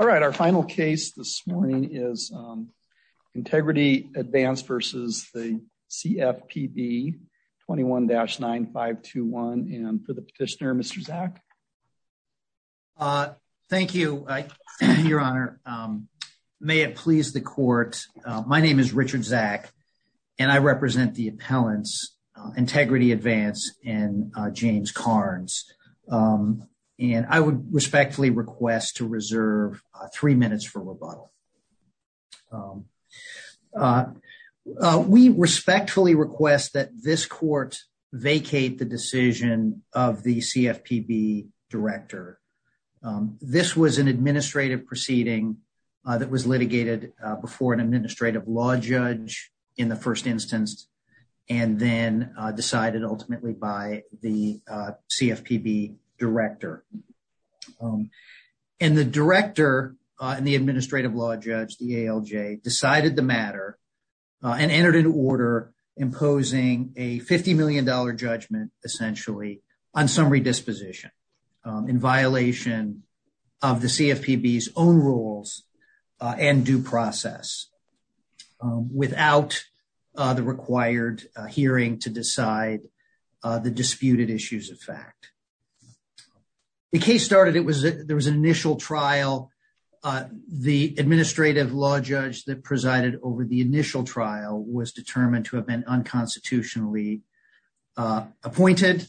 All right, our final case this morning is Integrity Advance v. CFPB 21-9521. And for the petitioner, Mr. Zak. Thank you, your honor. May it please the court. My name is Richard Zak, and I represent the appellants, Integrity Advance and James Carnes. And I would respectfully request to reserve three minutes for rebuttal. We respectfully request that this court vacate the decision of the CFPB director. This was an administrative proceeding that was litigated before an administrative law judge in the first instance, and then decided ultimately by the director and the administrative law judge, the ALJ, decided the matter and entered into order imposing a $50 million judgment essentially on summary disposition in violation of the CFPB's own rules and due process without the required hearing to decide the disputed issues of fact. The case started, there was an initial trial. The administrative law judge that presided over the initial trial was determined to have been unconstitutionally appointed.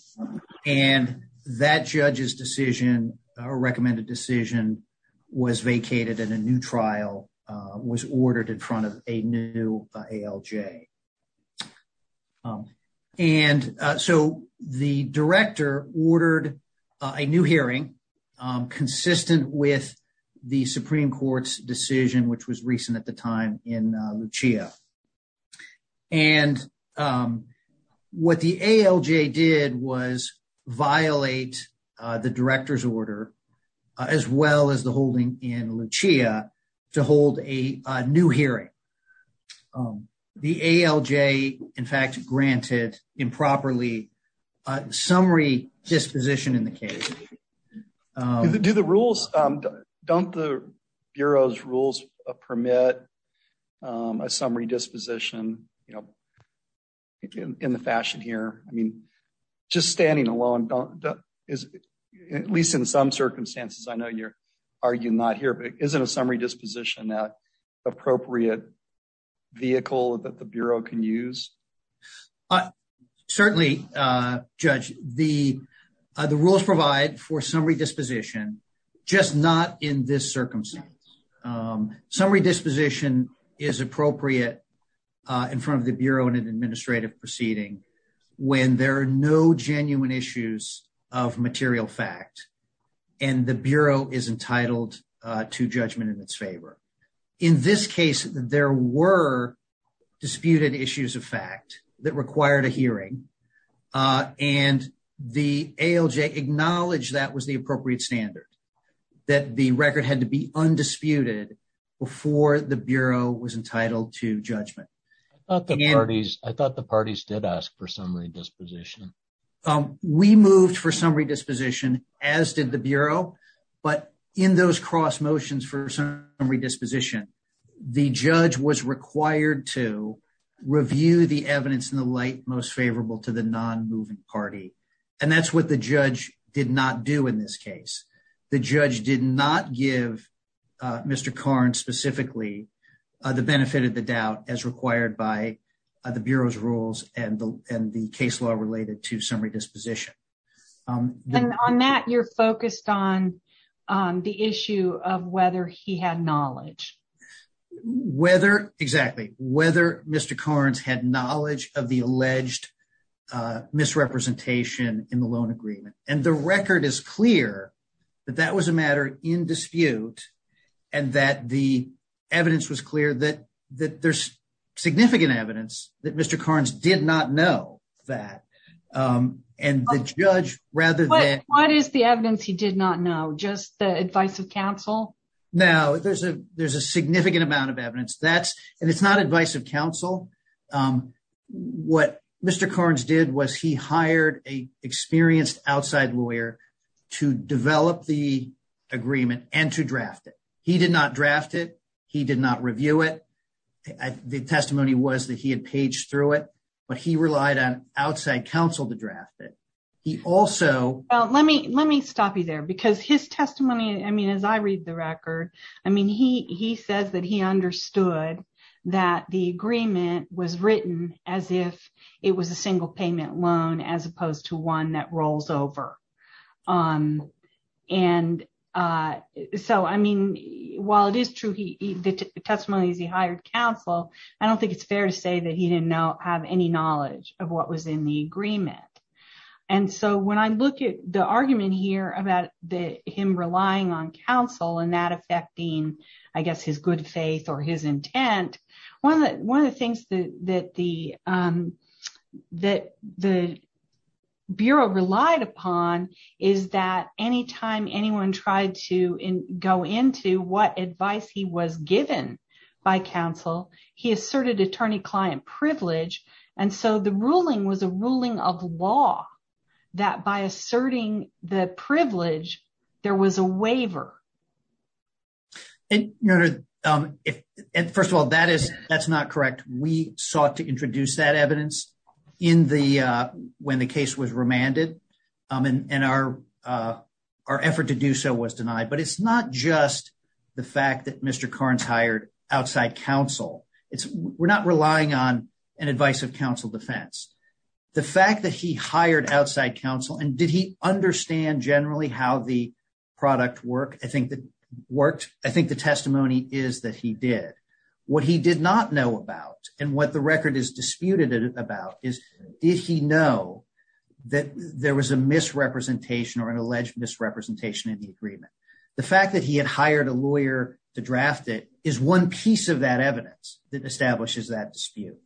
And that judge's decision, a recommended decision, was vacated and a new trial was ordered in front of a new ALJ. And so the director ordered a new hearing consistent with the Supreme Court's decision, which was recent at the time in Lucia. And what the ALJ did was violate the director's order as well as the holding in Lucia to hold a new hearing. The ALJ, in fact, granted improperly summary disposition in the case. Do the rules, don't the Bureau's rules permit a summary disposition, you know, in the fashion here? I mean, just standing alone is, at least in some circumstances, I know you're arguing not here, but isn't a summary disposition that appropriate vehicle that the Bureau can use? Certainly, Judge. The rules provide for summary disposition, just not in this circumstance. Summary disposition is appropriate in front of the fact. And the Bureau is entitled to judgment in its favor. In this case, there were disputed issues of fact that required a hearing. And the ALJ acknowledged that was the appropriate standard, that the record had to be undisputed before the Bureau was entitled to judgment. But the parties, I thought the parties did ask for summary disposition. We moved for summary disposition, as did the Bureau. But in those cross motions for summary disposition, the judge was required to review the evidence in the light most favorable to the non-moving party. And that's what the judge did not do in this case. The judge did not give Mr. Carnes specifically the benefit of the doubt as required by the Bureau's rules and the case law related to summary disposition. And on that, you're focused on the issue of whether he had knowledge. Whether, exactly, whether Mr. Carnes had knowledge of the alleged misrepresentation in the loan agreement. And the record is clear that that was a matter in dispute and that the evidence was clear that there's significant evidence that Mr. Carnes did not know that. And the judge, rather than- What is the evidence he did not know? Just the advice of counsel? No, there's a significant amount of evidence. And it's not advice of counsel. What Mr. Carnes did was he hired a experienced outside lawyer to develop the agreement and to draft it. He did not draft it. He did not review it. The testimony was that he had paged through it, but he relied on outside counsel to draft it. He also- Well, let me stop you there because his testimony, I mean, as I read the record, I mean, he says that he understood that the agreement was written as if it was a single payment loan as opposed to one that rolls over. And so, I mean, while it is true the testimony is he hired counsel, I don't think it's fair to say that he didn't have any knowledge of what was in the agreement. And so, when I look at the argument here about him relying on counsel and that affecting, I guess, his good faith or his intent, one of the things that the Bureau relied upon is that anytime anyone tried to go into what advice he was given by counsel, he asserted attorney-client privilege. And so, the ruling was a ruling of law that by asserting the privilege, there was a waiver. And, Your Honor, first of all, that's not correct. We sought to introduce that evidence when the case was remanded, and our effort to do so was denied. But it's not just the fact that Mr. Carnes hired outside counsel. We're not relying on an advice of counsel defense. The fact that he worked, I think the testimony is that he did. What he did not know about, and what the record is disputed about, is did he know that there was a misrepresentation or an alleged misrepresentation in the agreement? The fact that he had hired a lawyer to draft it is one piece of that evidence that establishes that dispute.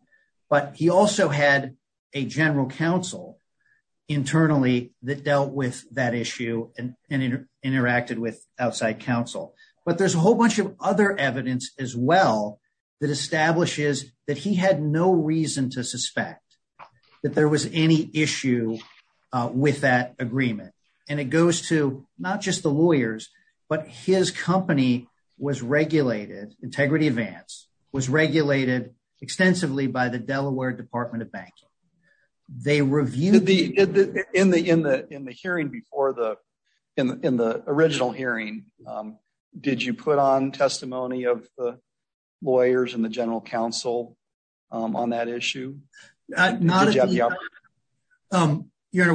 But he also had a general counsel internally that dealt with that issue and interacted with outside counsel. But there's a whole bunch of other evidence as well that establishes that he had no reason to suspect that there was any issue with that agreement. And it goes to not just the lawyers, but his company was regulated, Integrity Advance, was regulated extensively by the Delaware Department of Banking. In the hearing before the, in the original hearing, did you put on testimony of the lawyers and the general counsel on that issue? Your Honor,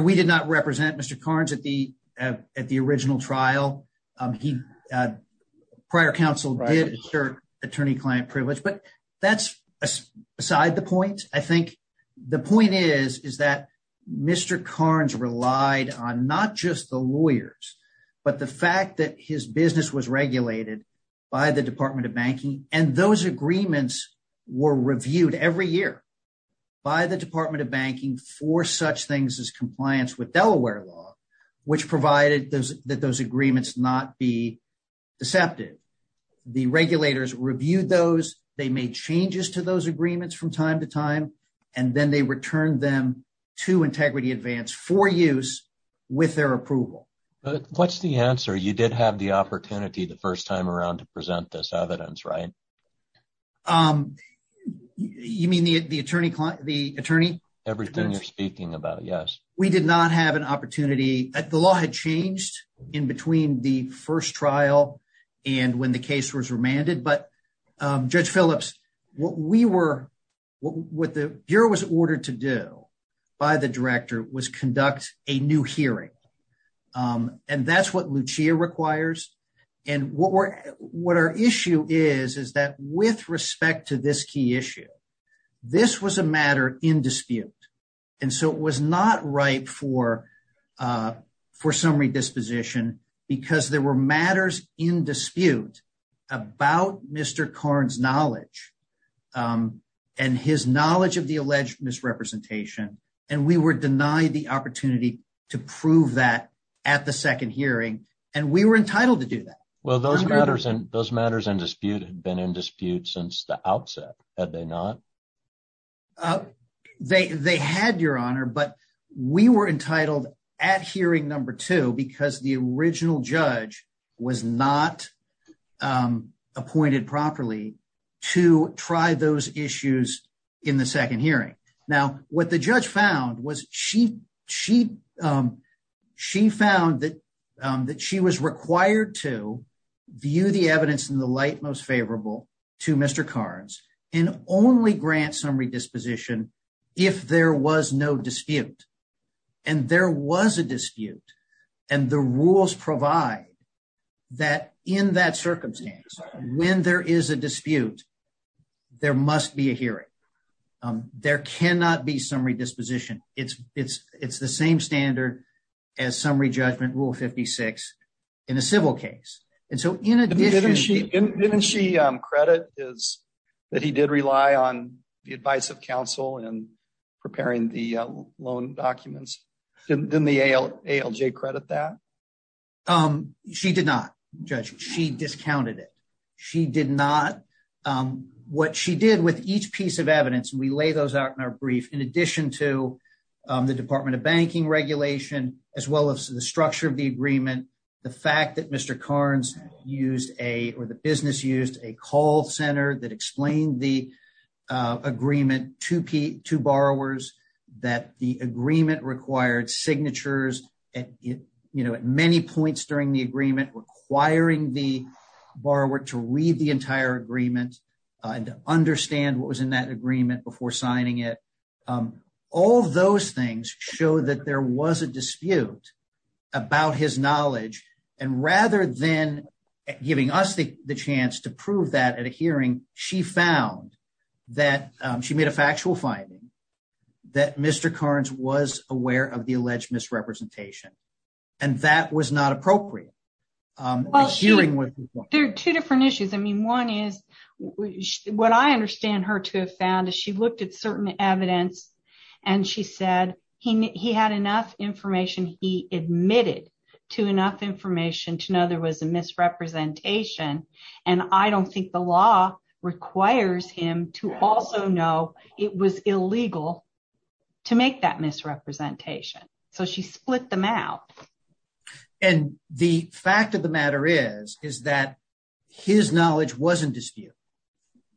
we did not represent Mr. Carnes at the original trial. Prior counsel did attorney-client privilege, but that's beside the point. I think the point is, is that Mr. Carnes relied on not just the lawyers, but the fact that his business was regulated by the Department of Banking. And those agreements were reviewed every year by the Department of Banking for such things as compliance with Delaware law, which provided that those agreements not be deceptive. The regulators reviewed those, they made changes to those agreements from time to time, and then they returned them to Integrity Advance for use with their approval. But what's the answer? You did have the opportunity the first time around to present this evidence, right? You mean the attorney-client, the attorney? Everything you're speaking about, yes. We did not have an opportunity. The law had changed in between the first trial and when the case was remanded, but Judge Phillips, what we were, what the Bureau was ordered to do by the Director was conduct a new hearing. And that's what Lucia requires. And what we're, what our issue is, is that with respect to this issue, this was a matter in dispute. And so it was not right for summary disposition because there were matters in dispute about Mr. Carnes' knowledge and his knowledge of the alleged misrepresentation. And we were denied the opportunity to prove that at the second hearing, and we were entitled to do that. Well, those matters in dispute had been in dispute since the outset, had they not? They had, Your Honor, but we were entitled at hearing number two because the original judge was not appointed properly to try those issues in the second hearing. Now, what the judge found was she found that she was required to view the evidence in the light most and only grant summary disposition if there was no dispute. And there was a dispute and the rules provide that in that circumstance, when there is a dispute, there must be a hearing. There cannot be summary disposition. It's the same standard as summary judgment rule 56 in a civil case. And so in addition... Didn't she credit that he did rely on the advice of counsel in preparing the loan documents? Didn't the ALJ credit that? She did not, Judge. She discounted it. She did not. What she did with each piece of evidence, and we lay those out in our brief, in addition to the Department of Banking regulation, as well as the structure of the agreement, the business used a call center that explained the agreement to borrowers, that the agreement required signatures at many points during the agreement, requiring the borrower to read the entire agreement and to understand what was in that agreement before signing it. All of those things show that there was a dispute about his knowledge. And rather than giving us the chance to prove that at a hearing, she found that she made a factual finding that Mr. Carnes was aware of the alleged misrepresentation. And that was not appropriate. There are two different issues. I mean, one is what I understand her to have found is she looked at certain evidence and she said he had enough information, he admitted to enough information to know there was a misrepresentation. And I don't think the law requires him to also know it was illegal to make that misrepresentation. So she split them out. And the fact of the matter is, is that his knowledge wasn't disputed.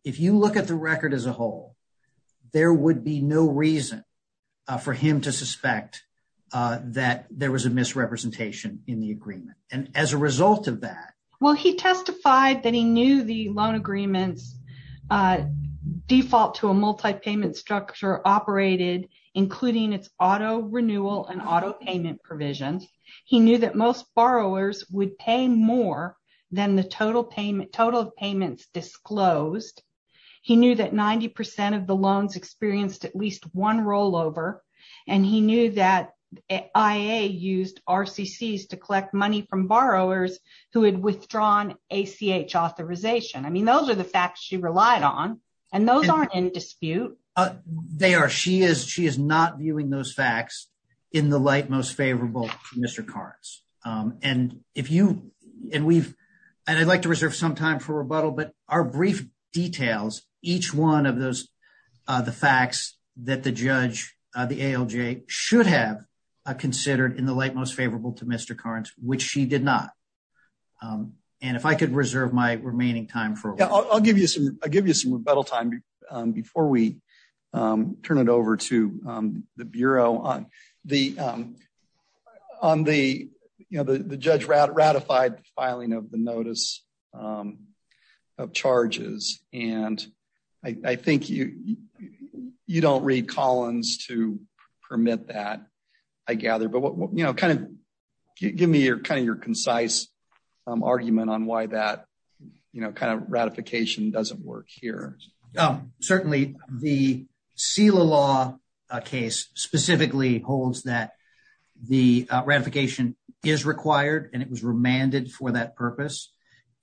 If you look at the record as a whole, there would be no reason for him to suspect that there was a misrepresentation in the agreement. And as a result of that, well, he testified that he knew the loan agreements default to a multi-payment structure operated, including its auto renewal and auto payment provisions. He knew that most borrowers would pay more than the total payment, total payments disclosed. He knew that 90% of the loans experienced at least one rollover. And he knew that IA used RCCs to collect money from borrowers who had withdrawn ACH authorization. I mean, those are the facts she relied on and those aren't in dispute. They are. She is not viewing those facts in the light most favorable to Mr. Karnes. And if you, and we've, and I'd like to reserve some time for rebuttal, but our brief details, each one of those, the facts that the considered in the light most favorable to Mr. Karnes, which she did not. And if I could reserve my remaining time for, I'll give you some, I'll give you some rebuttal time before we turn it over to the Bureau on the, on the, you know, the, the judge rat ratified filing of the notice of charges. And I think you, you don't read Collins to permit that I gather, but what, you know, kind of give me your kind of your concise argument on why that, you know, kind of ratification doesn't work here. Certainly the SELA law case specifically holds that the ratification is required and it was remanded for that purpose.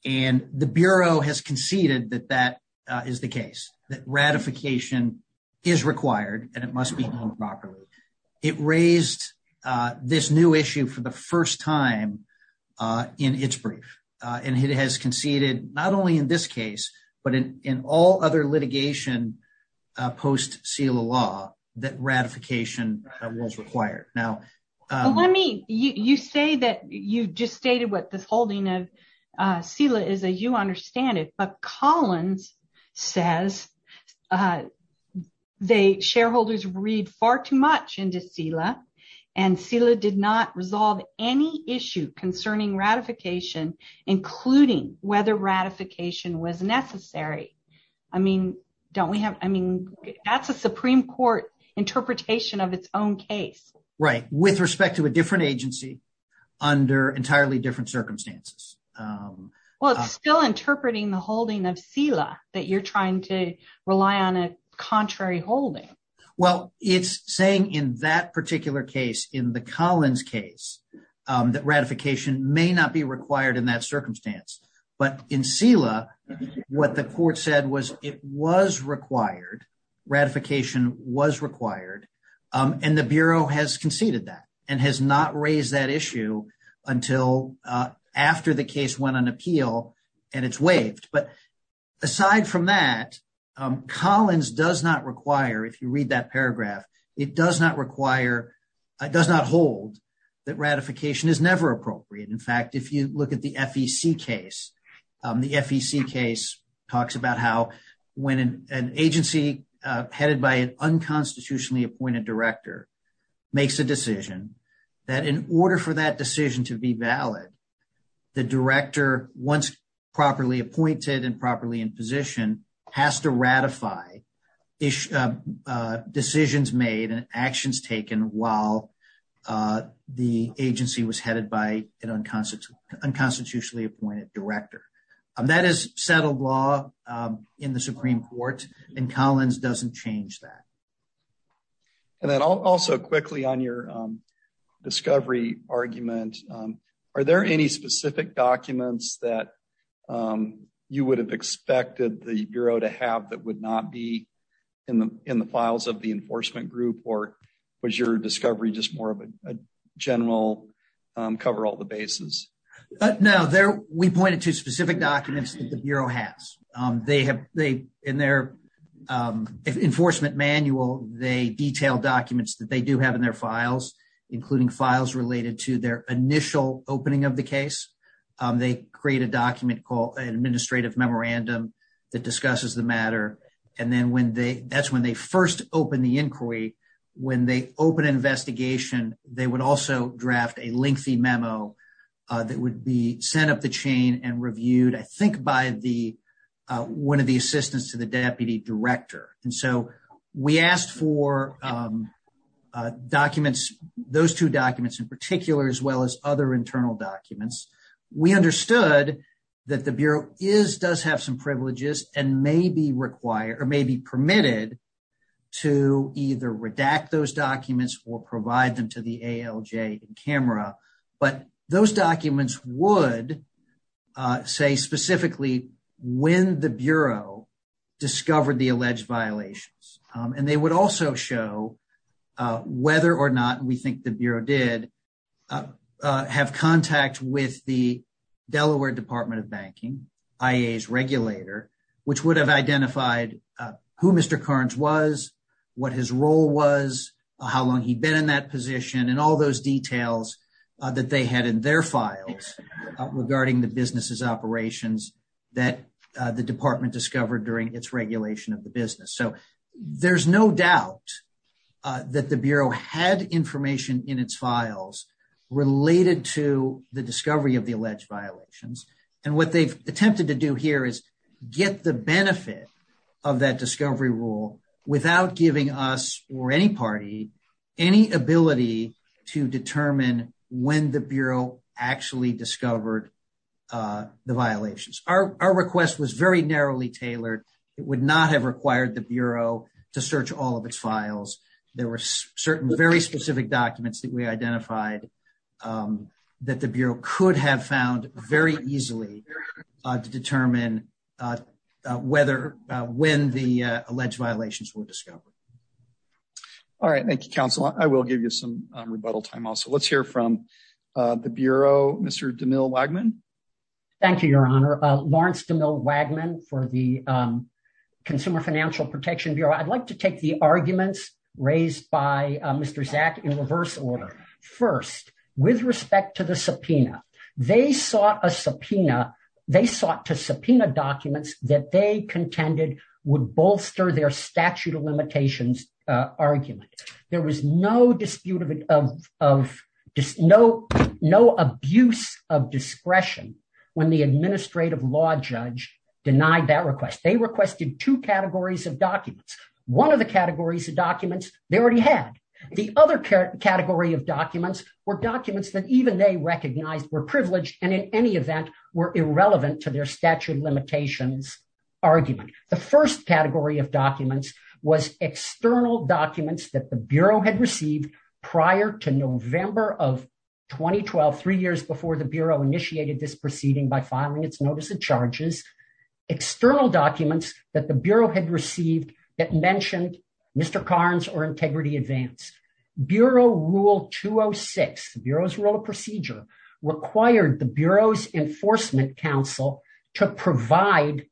And the Bureau has conceded that that is the case, that ratification is required and it must be done properly. It raised this new issue for the first time in its brief. And it has conceded not only in this case, but in all other litigation post SELA law that ratification was required. Now, let me, you say that you just stated what this holding of SELA is a, you understand it, but Collins says they shareholders read far too much into SELA and SELA did not resolve any issue concerning ratification, including whether ratification was necessary. I mean, don't we have, I mean, that's a Supreme court interpretation of its own case. Right. With respect to a different agency under entirely different circumstances. Well, it's still interpreting the holding of SELA that you're trying to rely on a contrary holding. Well, it's saying in that particular case, in the Collins case, that ratification may not be required in that circumstance, but in SELA, what the court said was it was required, ratification was required. And the Bureau has conceded that and has not raised that issue until after the case went on appeal and it's waived. But aside from that, Collins does not require, if you read that paragraph, it does not require, it does not hold that ratification is never appropriate. In fact, if you look at the FEC case, the FEC case talks about how when an agency headed by an unconstitutionally appointed director makes a decision that in order for that decision to be valid, the director, once properly appointed and properly in position has to ratify decisions made and actions taken while the agency was headed by an unconstitutionally appointed director. That is settled law in the Supreme Court and Collins doesn't change that. And then also quickly on your discovery argument, are there any specific documents that you would have expected the Bureau to have that would not be in the files of the enforcement group or was your discovery just more of a general cover all the bases? No, we pointed to specific documents that the Bureau has. In their enforcement manual, they detail documents that they do have in their files, including files related to their initial opening of the case. They create a document called an administrative memorandum that discusses the matter. And then when they, that's when they first open the inquiry, when they open investigation, they would also draft a lengthy memo that would be sent up the chain and reviewed, I think by the, one of the assistants to the deputy director. And so we asked for documents, those two documents in particular, as well as other internal documents. We understood that the Bureau is, does have some privileges and may be required or may be permitted to either redact those documents or provide them to the ALJ in camera. But those documents would say specifically when the Bureau discovered the have contact with the Delaware Department of Banking, IA's regulator, which would have identified who Mr. Carnes was, what his role was, how long he'd been in that position and all those details that they had in their files regarding the businesses operations that the department discovered during its regulation of the business. So there's no doubt that the Bureau had information in its files related to the discovery of the alleged violations. And what they've attempted to do here is get the benefit of that discovery rule without giving us or any party, any ability to determine when the Bureau actually discovered the violations. Our request was very narrowly tailored. It would not have required the Bureau to search all of its files. There were certain very specific documents that we identified that the Bureau could have found very easily to determine whether, when the alleged violations were discovered. All right. Thank you, counsel. I will give you some rebuttal time also. Let's hear from the Bureau, Mr. DeMille Wagman. Thank you, your honor. Lawrence DeMille Wagman for the Financial Protection Bureau. I'd like to take the arguments raised by Mr. Zack in reverse order. First, with respect to the subpoena, they sought a subpoena. They sought to subpoena documents that they contended would bolster their statute of limitations argument. There was no dispute of no abuse of discretion when the administrative law judge denied that request. They requested two categories of documents. One of the categories of documents they already had. The other category of documents were documents that even they recognized were privileged and, in any event, were irrelevant to their statute of limitations argument. The first category of documents was external documents that the Bureau had received prior to November of 2012, three years before the Bureau initiated this proceeding by filing its notice of charges. External documents that the Bureau had received that mentioned Mr. Carnes or Integrity Advance. Bureau Rule 206, Bureau's Rule of Procedure, required the Bureau's Enforcement Counsel to provide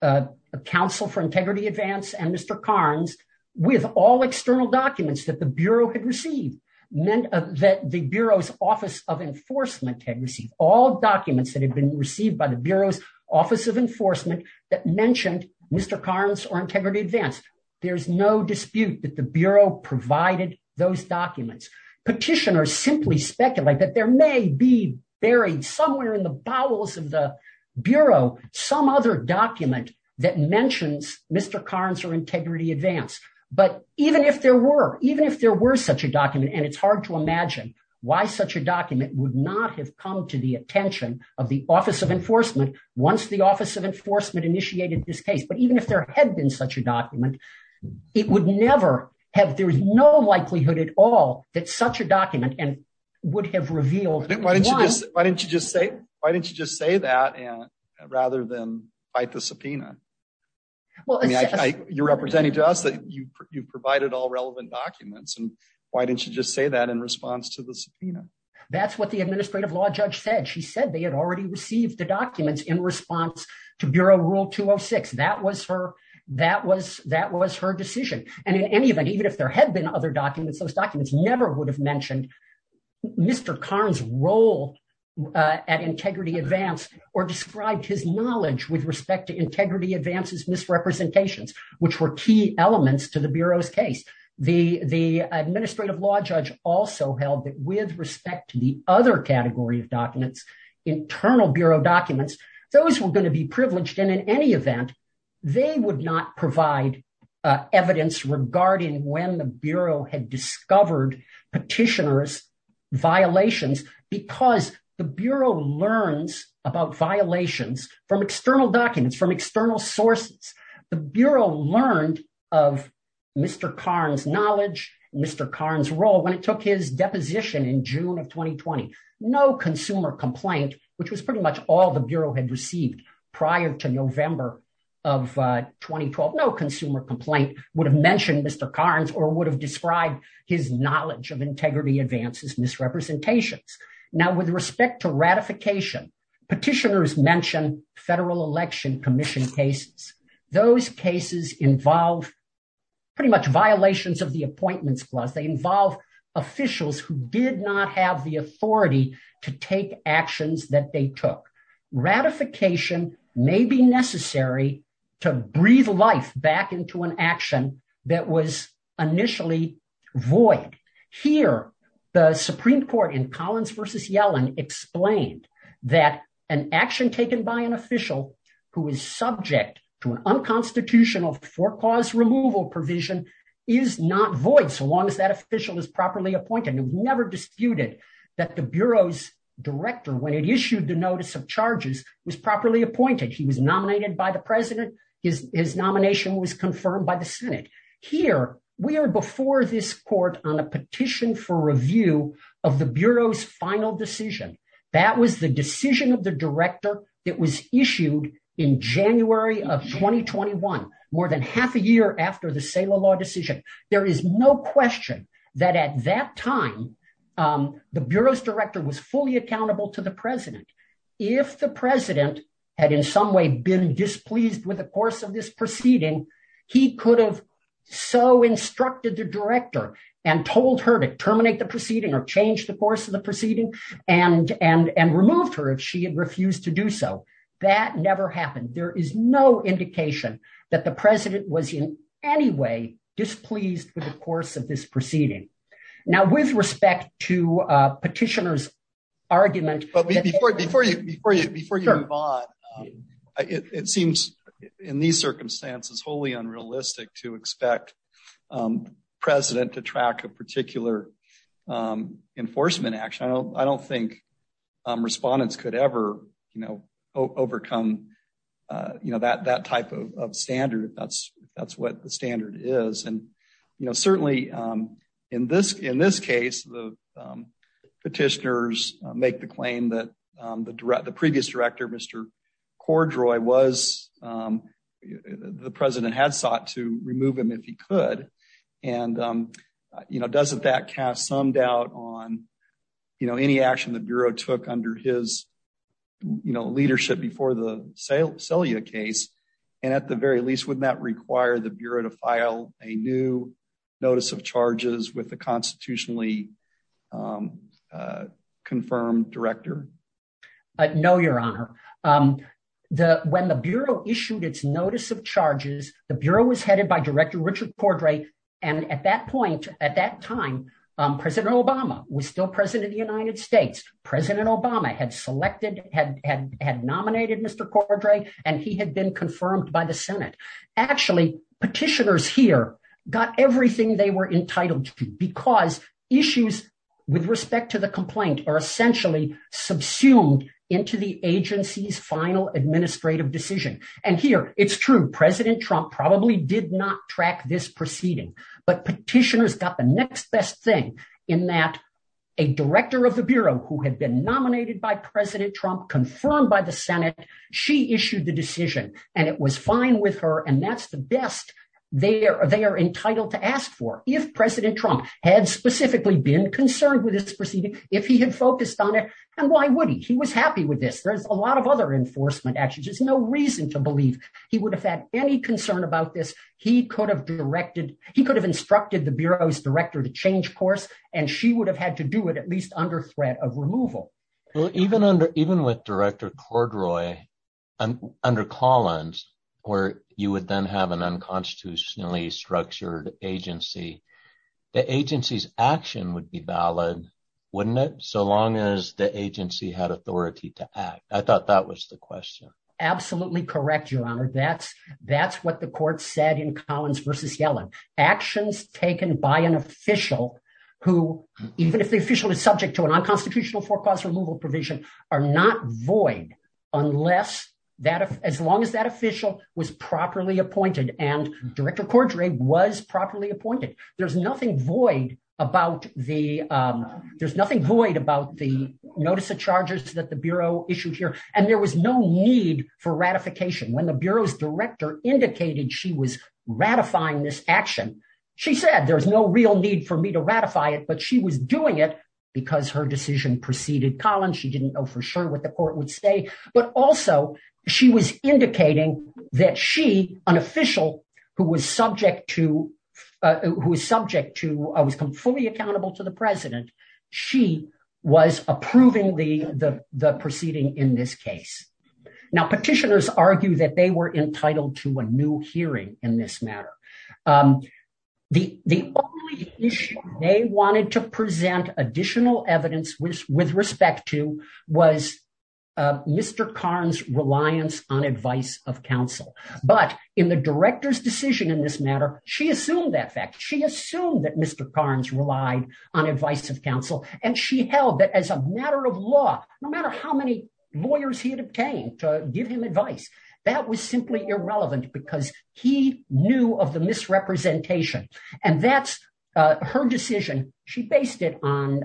a counsel for Integrity Advance and Mr. Carnes with all external documents that the Bureau had received, that the Bureau's Office of Enforcement had received. All documents that had been received by the Bureau's Office of Enforcement that mentioned Mr. Carnes or Integrity Advance. There's no dispute that the Bureau provided those documents. Petitioners simply speculate that there may be buried somewhere in the bowels of the Bureau some other document that mentions Mr. Carnes or Integrity Advance. But even if there were, even if there were such a document, and it's hard to imagine why such a document would not have come to the attention of the Office of Enforcement once the Office of Enforcement initiated this case, but even if there had been such a document, it would never have, there's no likelihood at all that such a document would have revealed. Why didn't you just say, why didn't you just say that rather than fight the subpoena? You're representing to us that you provided all relevant documents and why didn't you just say that in response to the subpoena? That's what the Administrative Law Judge said. She said they had already received the documents in response to Bureau Rule 206. That was her, that was, that was her decision. And in any event, even if there had been other documents, those documents never would have mentioned Mr. Carnes' role at Integrity Advance or described his knowledge with respect to Integrity Advance's misrepresentations, which were key elements to the Bureau's case. The Administrative Law Judge also held that with respect to the other category of documents, internal Bureau documents, those were going to be privileged and in any event, they would not provide evidence regarding when the Bureau had discovered petitioners' violations because the Bureau learns about violations from external documents, from external sources. The Bureau learned of Mr. Carnes' knowledge, Mr. Carnes' role when it took his deposition in June of 2020. No consumer complaint, which was pretty much all the Bureau had received prior to November of 2012, no consumer complaint would have mentioned Mr. Carnes or would have described his knowledge of Integrity Advance's misrepresentations. Now with respect to ratification, petitioners mention Federal Election Commission cases. Those cases involve pretty much violations of the Appointments Clause. They involve officials who did not have the authority to take actions that they took. Ratification may be necessary to breathe life back into an action that was initially void. Here, the Supreme Court in unconstitutional forecast removal provision is not void so long as that official is properly appointed. It was never disputed that the Bureau's director, when it issued the notice of charges, was properly appointed. He was nominated by the President. His nomination was confirmed by the Senate. Here, we are before this Court on a petition for review of the Bureau's final decision. That was the decision of the director that was issued in January of 2021, more than half a year after the SALA law decision. There is no question that at that time, the Bureau's director was fully accountable to the President. If the President had in some way been displeased with the course of this proceeding, he could have so instructed the director and told her to terminate the proceeding and removed her if she had refused to do so. That never happened. There is no indication that the President was in any way displeased with the course of this proceeding. Now, with respect to petitioner's argument... Before you move on, it seems in these circumstances wholly unrealistic to expect the President to track a particular enforcement action. I don't think respondents could ever overcome that type of standard if that's what the standard is. Certainly, in this case, the petitioners make the claim that the previous director, Mr. Cordray, was the President had sought to remove him if he could. Doesn't that cast some doubt on any action the Bureau took under his leadership before the Celia case? At the very least, wouldn't that require the Bureau to file a new notice of charges with the charges? The Bureau was headed by Director Richard Cordray. At that time, President Obama was still President of the United States. President Obama had nominated Mr. Cordray, and he had been confirmed by the Senate. Actually, petitioners here got everything they were entitled to because issues with respect to the complaint are essentially subsumed into the it's true. President Trump probably did not track this proceeding, but petitioners got the next best thing in that a Director of the Bureau who had been nominated by President Trump, confirmed by the Senate, she issued the decision, and it was fine with her, and that's the best they are entitled to ask for. If President Trump had specifically been concerned with this proceeding, if he had focused on it, then why would he? He was happy with this. There's a lot of other enforcement actions. There's no reason to believe he would have had any concern about this. He could have directed, he could have instructed the Bureau's Director to change course, and she would have had to do it, at least under threat of removal. Well, even under, even with Director Cordray, under Collins, where you would then have an unconstitutionally structured agency, the agency's action would be valid, wouldn't it? So long as the agency had authority to act. I absolutely correct, Your Honor. That's what the court said in Collins versus Yellen. Actions taken by an official who, even if the official is subject to an unconstitutional forecast removal provision, are not void unless, as long as that official was properly appointed, and Director Cordray was properly appointed. There's nothing void about the notice of need for ratification. When the Bureau's Director indicated she was ratifying this action, she said, there's no real need for me to ratify it, but she was doing it because her decision preceded Collins. She didn't know for sure what the court would say. But also, she was indicating that she, an official who was subject to, who was subject to, was fully accountable to the Now, petitioners argue that they were entitled to a new hearing in this matter. The only issue they wanted to present additional evidence with respect to was Mr. Carnes' reliance on advice of counsel. But in the Director's decision in this matter, she assumed that fact. She assumed that Mr. Carnes relied on advice of counsel, and she held that as a matter of law, no matter how many lawyers he had obtained to give him advice, that was simply irrelevant, because he knew of the misrepresentation. And that's her decision. She based it on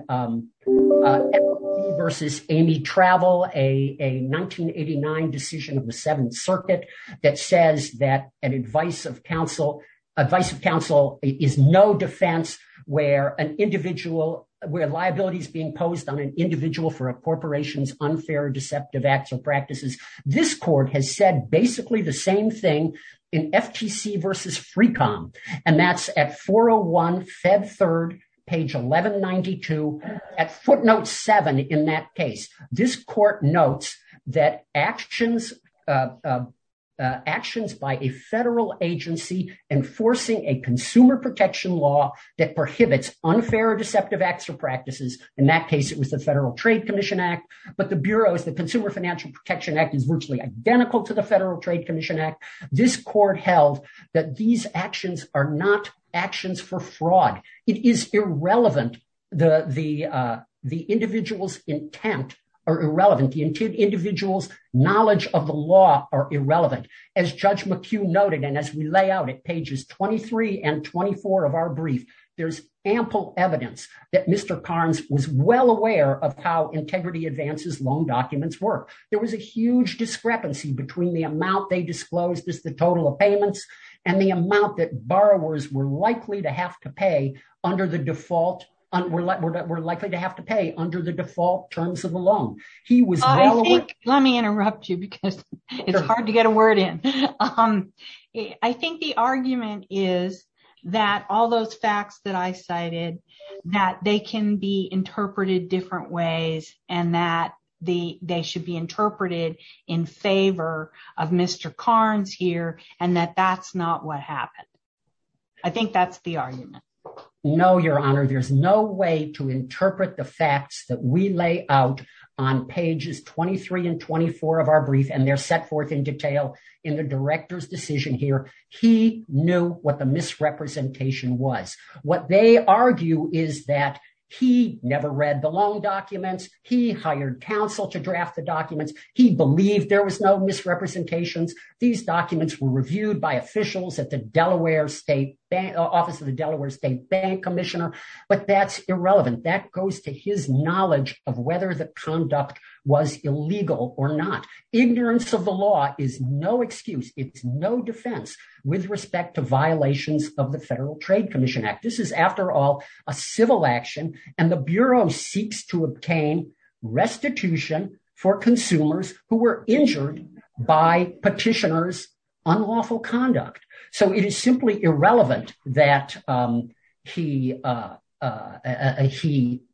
versus Amy Travel, a 1989 decision of the Seventh Circuit that says that an advice of counsel, advice of counsel is no defense where an individual, where liability is being posed on an unfair or deceptive acts or practices. This court has said basically the same thing in FTC versus FREECOM, and that's at 401, Fed 3rd, page 1192, at footnote 7 in that case. This court notes that actions by a federal agency enforcing a consumer protection law that prohibits unfair or deceptive acts or practices, in that case, it was the Federal Trade Commission Act, but the Bureau's Consumer Financial Protection Act is virtually identical to the Federal Trade Commission Act. This court held that these actions are not actions for fraud. It is irrelevant. The individual's intent are irrelevant. The individual's knowledge of the law are irrelevant. As Judge McHugh noted, and as we lay out at pages 23 and 24 of our brief, there's ample evidence that Mr. Carnes was well aware of how integrity advances loan documents work. There was a huge discrepancy between the amount they disclosed as the total of payments and the amount that borrowers were likely to have to pay under the default, were likely to have to pay under the default terms of the loan. He was well aware. Let me interrupt you because it's hard to get a word in. I think the argument is that all those facts that I cited, that they can be interpreted different ways, and that they should be interpreted in favor of Mr. Carnes here, and that that's not what happened. I think that's the argument. No, Your Honor. There's no way to interpret the facts that we lay out on pages 23 and 24 of our set forth in detail in the director's decision here. He knew what the misrepresentation was. What they argue is that he never read the loan documents. He hired counsel to draft the documents. He believed there was no misrepresentations. These documents were reviewed by officials at the Office of the Delaware State Bank Commissioner, but that's irrelevant. That goes to his knowledge of whether the conduct was illegal or not. Ignorance of the law is no excuse. It's no defense with respect to violations of the Federal Trade Commission Act. This is, after all, a civil action, and the Bureau seeks to obtain restitution for consumers who were injured by petitioners' unlawful conduct. So it is simply irrelevant that he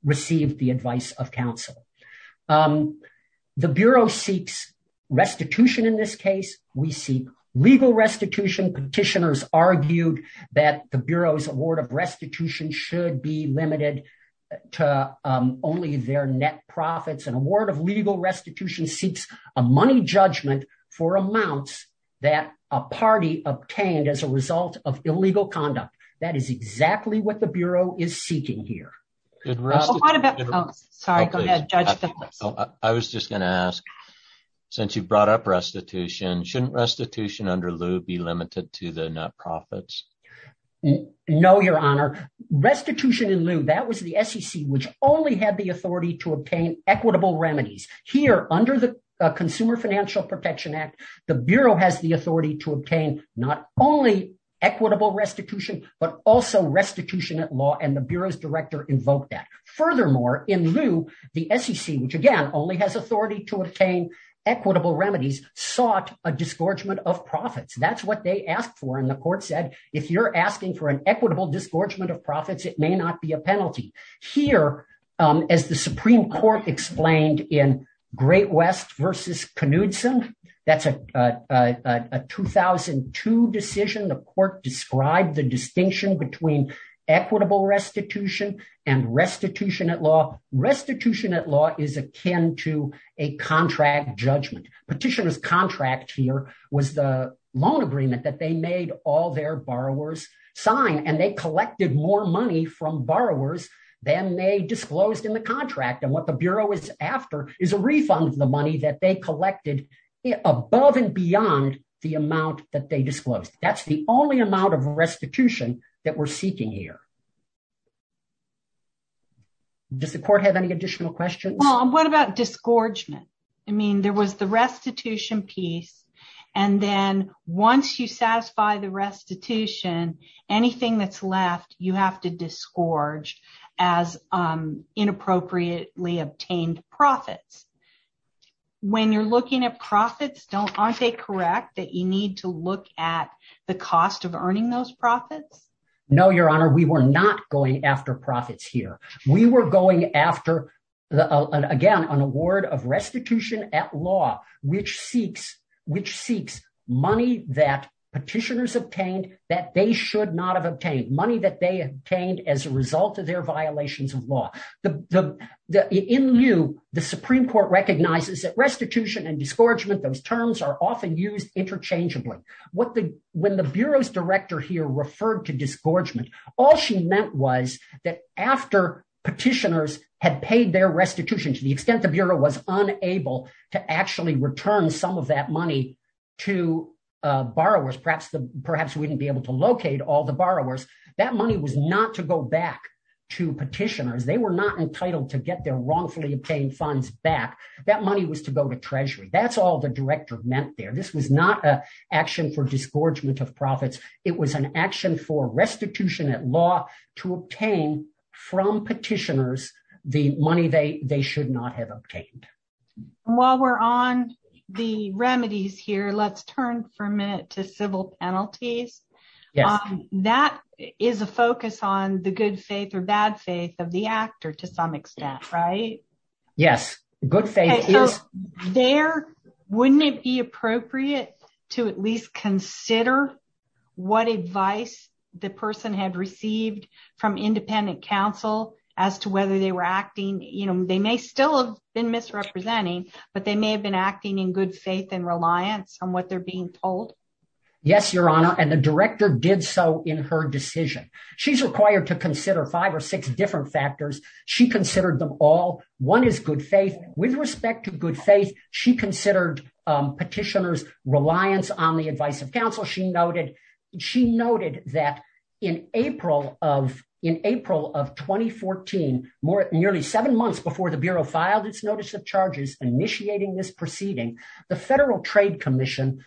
received the advice of counsel. The Bureau seeks restitution in this case. We seek legal restitution. Petitioners argued that the Bureau's award of restitution should be limited to only their net profits. An award legal restitution seeks a money judgment for amounts that a party obtained as a result of illegal conduct. That is exactly what the Bureau is seeking here. I was just going to ask, since you brought up restitution, shouldn't restitution under lieu be limited to the net profits? No, your honor. Restitution in lieu, that was the SEC which only had the authority to obtain equitable remedies. Here, under the Consumer Financial Protection Act, the Bureau has the authority to obtain not only equitable restitution, but also restitution at law, and the Bureau's director invoked that. Furthermore, in lieu, the SEC, which again, only has authority to obtain equitable remedies, sought a disgorgement of profits. That's what they asked for, and the court said, if you're asking for an equitable disgorgement of profits, it may not be a penalty. Here, as the Supreme Court explained in Great West versus Knudsen, that's a 2002 decision. The court described the distinction between equitable restitution and restitution at law. Restitution at law is akin to a contract judgment. Petitioner's contract here was the loan agreement that they made all their borrowers sign, and they collected more money from borrowers than they disclosed in the contract. What the Bureau is after is a refund of the money that they collected above and beyond the amount that they disclosed. That's the only amount of restitution that we're seeking here. Does the court have any additional questions? What about disgorgement? I mean, there was the restitution piece, and then once you satisfy the restitution, anything that's left, you have to disgorge as inappropriately obtained profits. When you're looking at profits, aren't they correct that you need to look at the cost of earning those profits? No, Your Honor, we were not going after profits here. We were going after again, an award of restitution at law, which seeks money that petitioners obtained that they should not have obtained, money that they obtained as a result of their violations of law. In lieu, the Supreme Court recognizes that restitution and disgorgement, those terms, are often used interchangeably. When the Bureau's director here referred to disgorgement, all she meant was that after petitioners had paid their restitution to the extent the Bureau was unable to actually return some of that money to borrowers, perhaps we wouldn't be able to locate all the borrowers, that money was not to go back to petitioners. They were not entitled to get their wrongfully obtained funds back. That money was to go to Treasury. That's all the director meant there. This was not an action for disgorgement of profits. It was an action for at law to obtain from petitioners the money they should not have obtained. While we're on the remedies here, let's turn for a minute to civil penalties. That is a focus on the good faith or bad faith of the actor to some extent, right? Yes, good faith. There, wouldn't it be appropriate to at least consider what advice the person had received from independent counsel as to whether they were acting, you know, they may still have been misrepresenting, but they may have been acting in good faith and reliance on what they're being told? Yes, Your Honor, and the director did so in her decision. She's required to consider five or six different factors. She considered them all. One is good faith. With respect to good faith, she considered petitioners' reliance on the advice of counsel. She noted that in April of 2014, nearly seven months before the Bureau filed its notice of charges initiating this proceeding, the Federal Trade Commission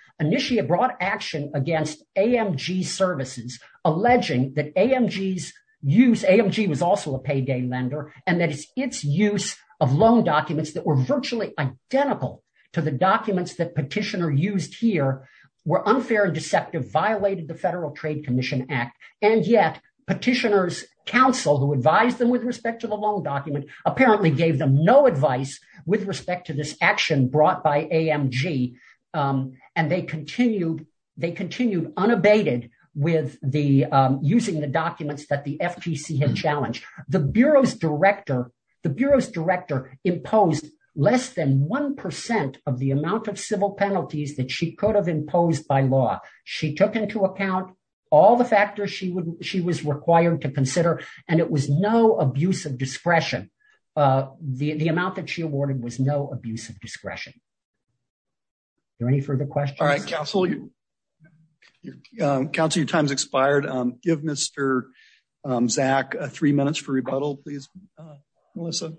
brought action against AMG services, alleging that AMGs use, AMG was also a payday lender, and that its use of loan documents that were virtually identical to the documents that Petitioner used here were unfair and deceptive, violated the Federal Trade Commission Act. And yet, Petitioner's counsel who advised them with respect to the loan document apparently gave them no advice with respect to this action brought by AMG. And they continued, unabated, with the, using the documents that the FTC had challenged. The Bureau's director, the Bureau's director imposed less than 1% of the amount of civil penalties that she could have imposed by law. She took into account all the factors she was required to consider, and it was no abuse of discretion. The amount that she awarded was no abuse of discretion. Are there any further questions? All right, counsel, your time's expired. Give Mr. Zach three minutes for rebuttal, please, Melissa.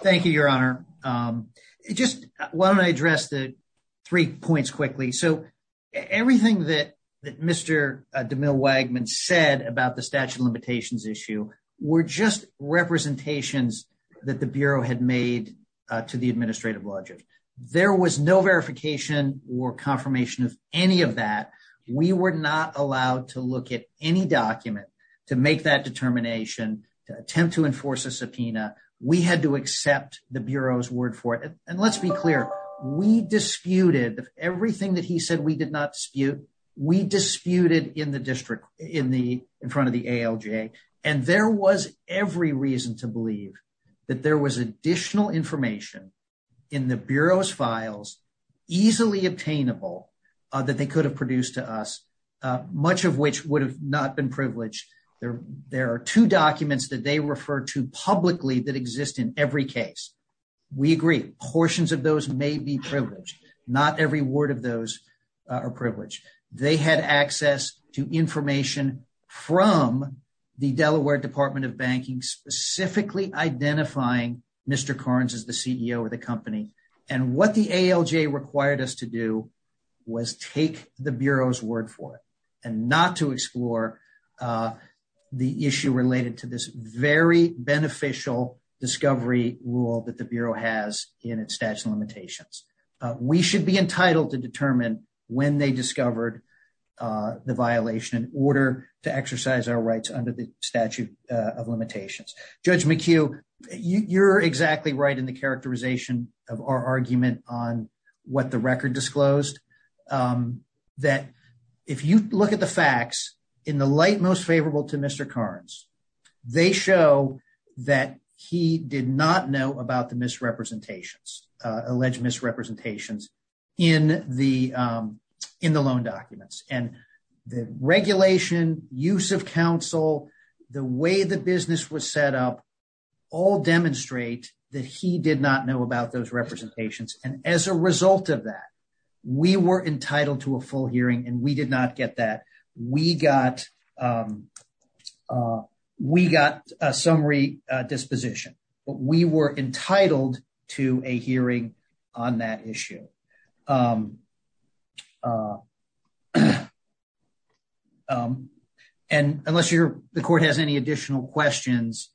Thank you, Your Honor. Just, why don't I address the three points quickly. So, everything that Mr. DeMille-Waggman said about the statute of limitations issue were just representations that the Bureau had made to the administrative logic. There was no verification or confirmation of any of that. We were not allowed to look at any document to make that determination, to attempt to enforce a subpoena. We had to accept the Bureau's word for it. And let's be clear, we disputed everything that he said we did not dispute. We disputed in the, in front of the ALJ, and there was every reason to believe that there was additional information in the Bureau's files, easily obtainable, that they could have produced to us, much of which would have not been privileged. There are two documents that they refer to publicly that exist in every case. We agree, portions of those may be privileged. Not every of those are privileged. They had access to information from the Delaware Department of Banking, specifically identifying Mr. Carnes as the CEO of the company. And what the ALJ required us to do was take the Bureau's word for it, and not to explore the issue related to this very beneficial discovery rule that the Bureau has in its statute of limitations. We should be entitled to determine when they discovered the violation in order to exercise our rights under the statute of limitations. Judge McHugh, you're exactly right in the characterization of our argument on what the record disclosed, that if you look at the facts, in the light most favorable to Mr. Carnes, they show that he did not know about the misrepresentations, alleged misrepresentations in the loan documents. And the regulation, use of counsel, the way the business was set up, all demonstrate that he did not know about those representations. And as a result of that, we were entitled to a full hearing, and we did not get that. We got a summary disposition, but we were entitled to a hearing on that issue. And unless the court has any additional questions,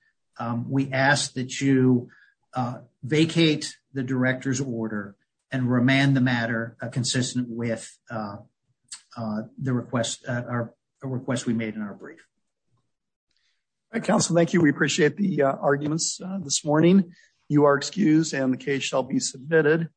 we ask that you vacate the director's order and remand the matter consistent with the request we made in our brief. All right, counsel. Thank you. We appreciate the arguments this morning. You are excused and the case shall be submitted.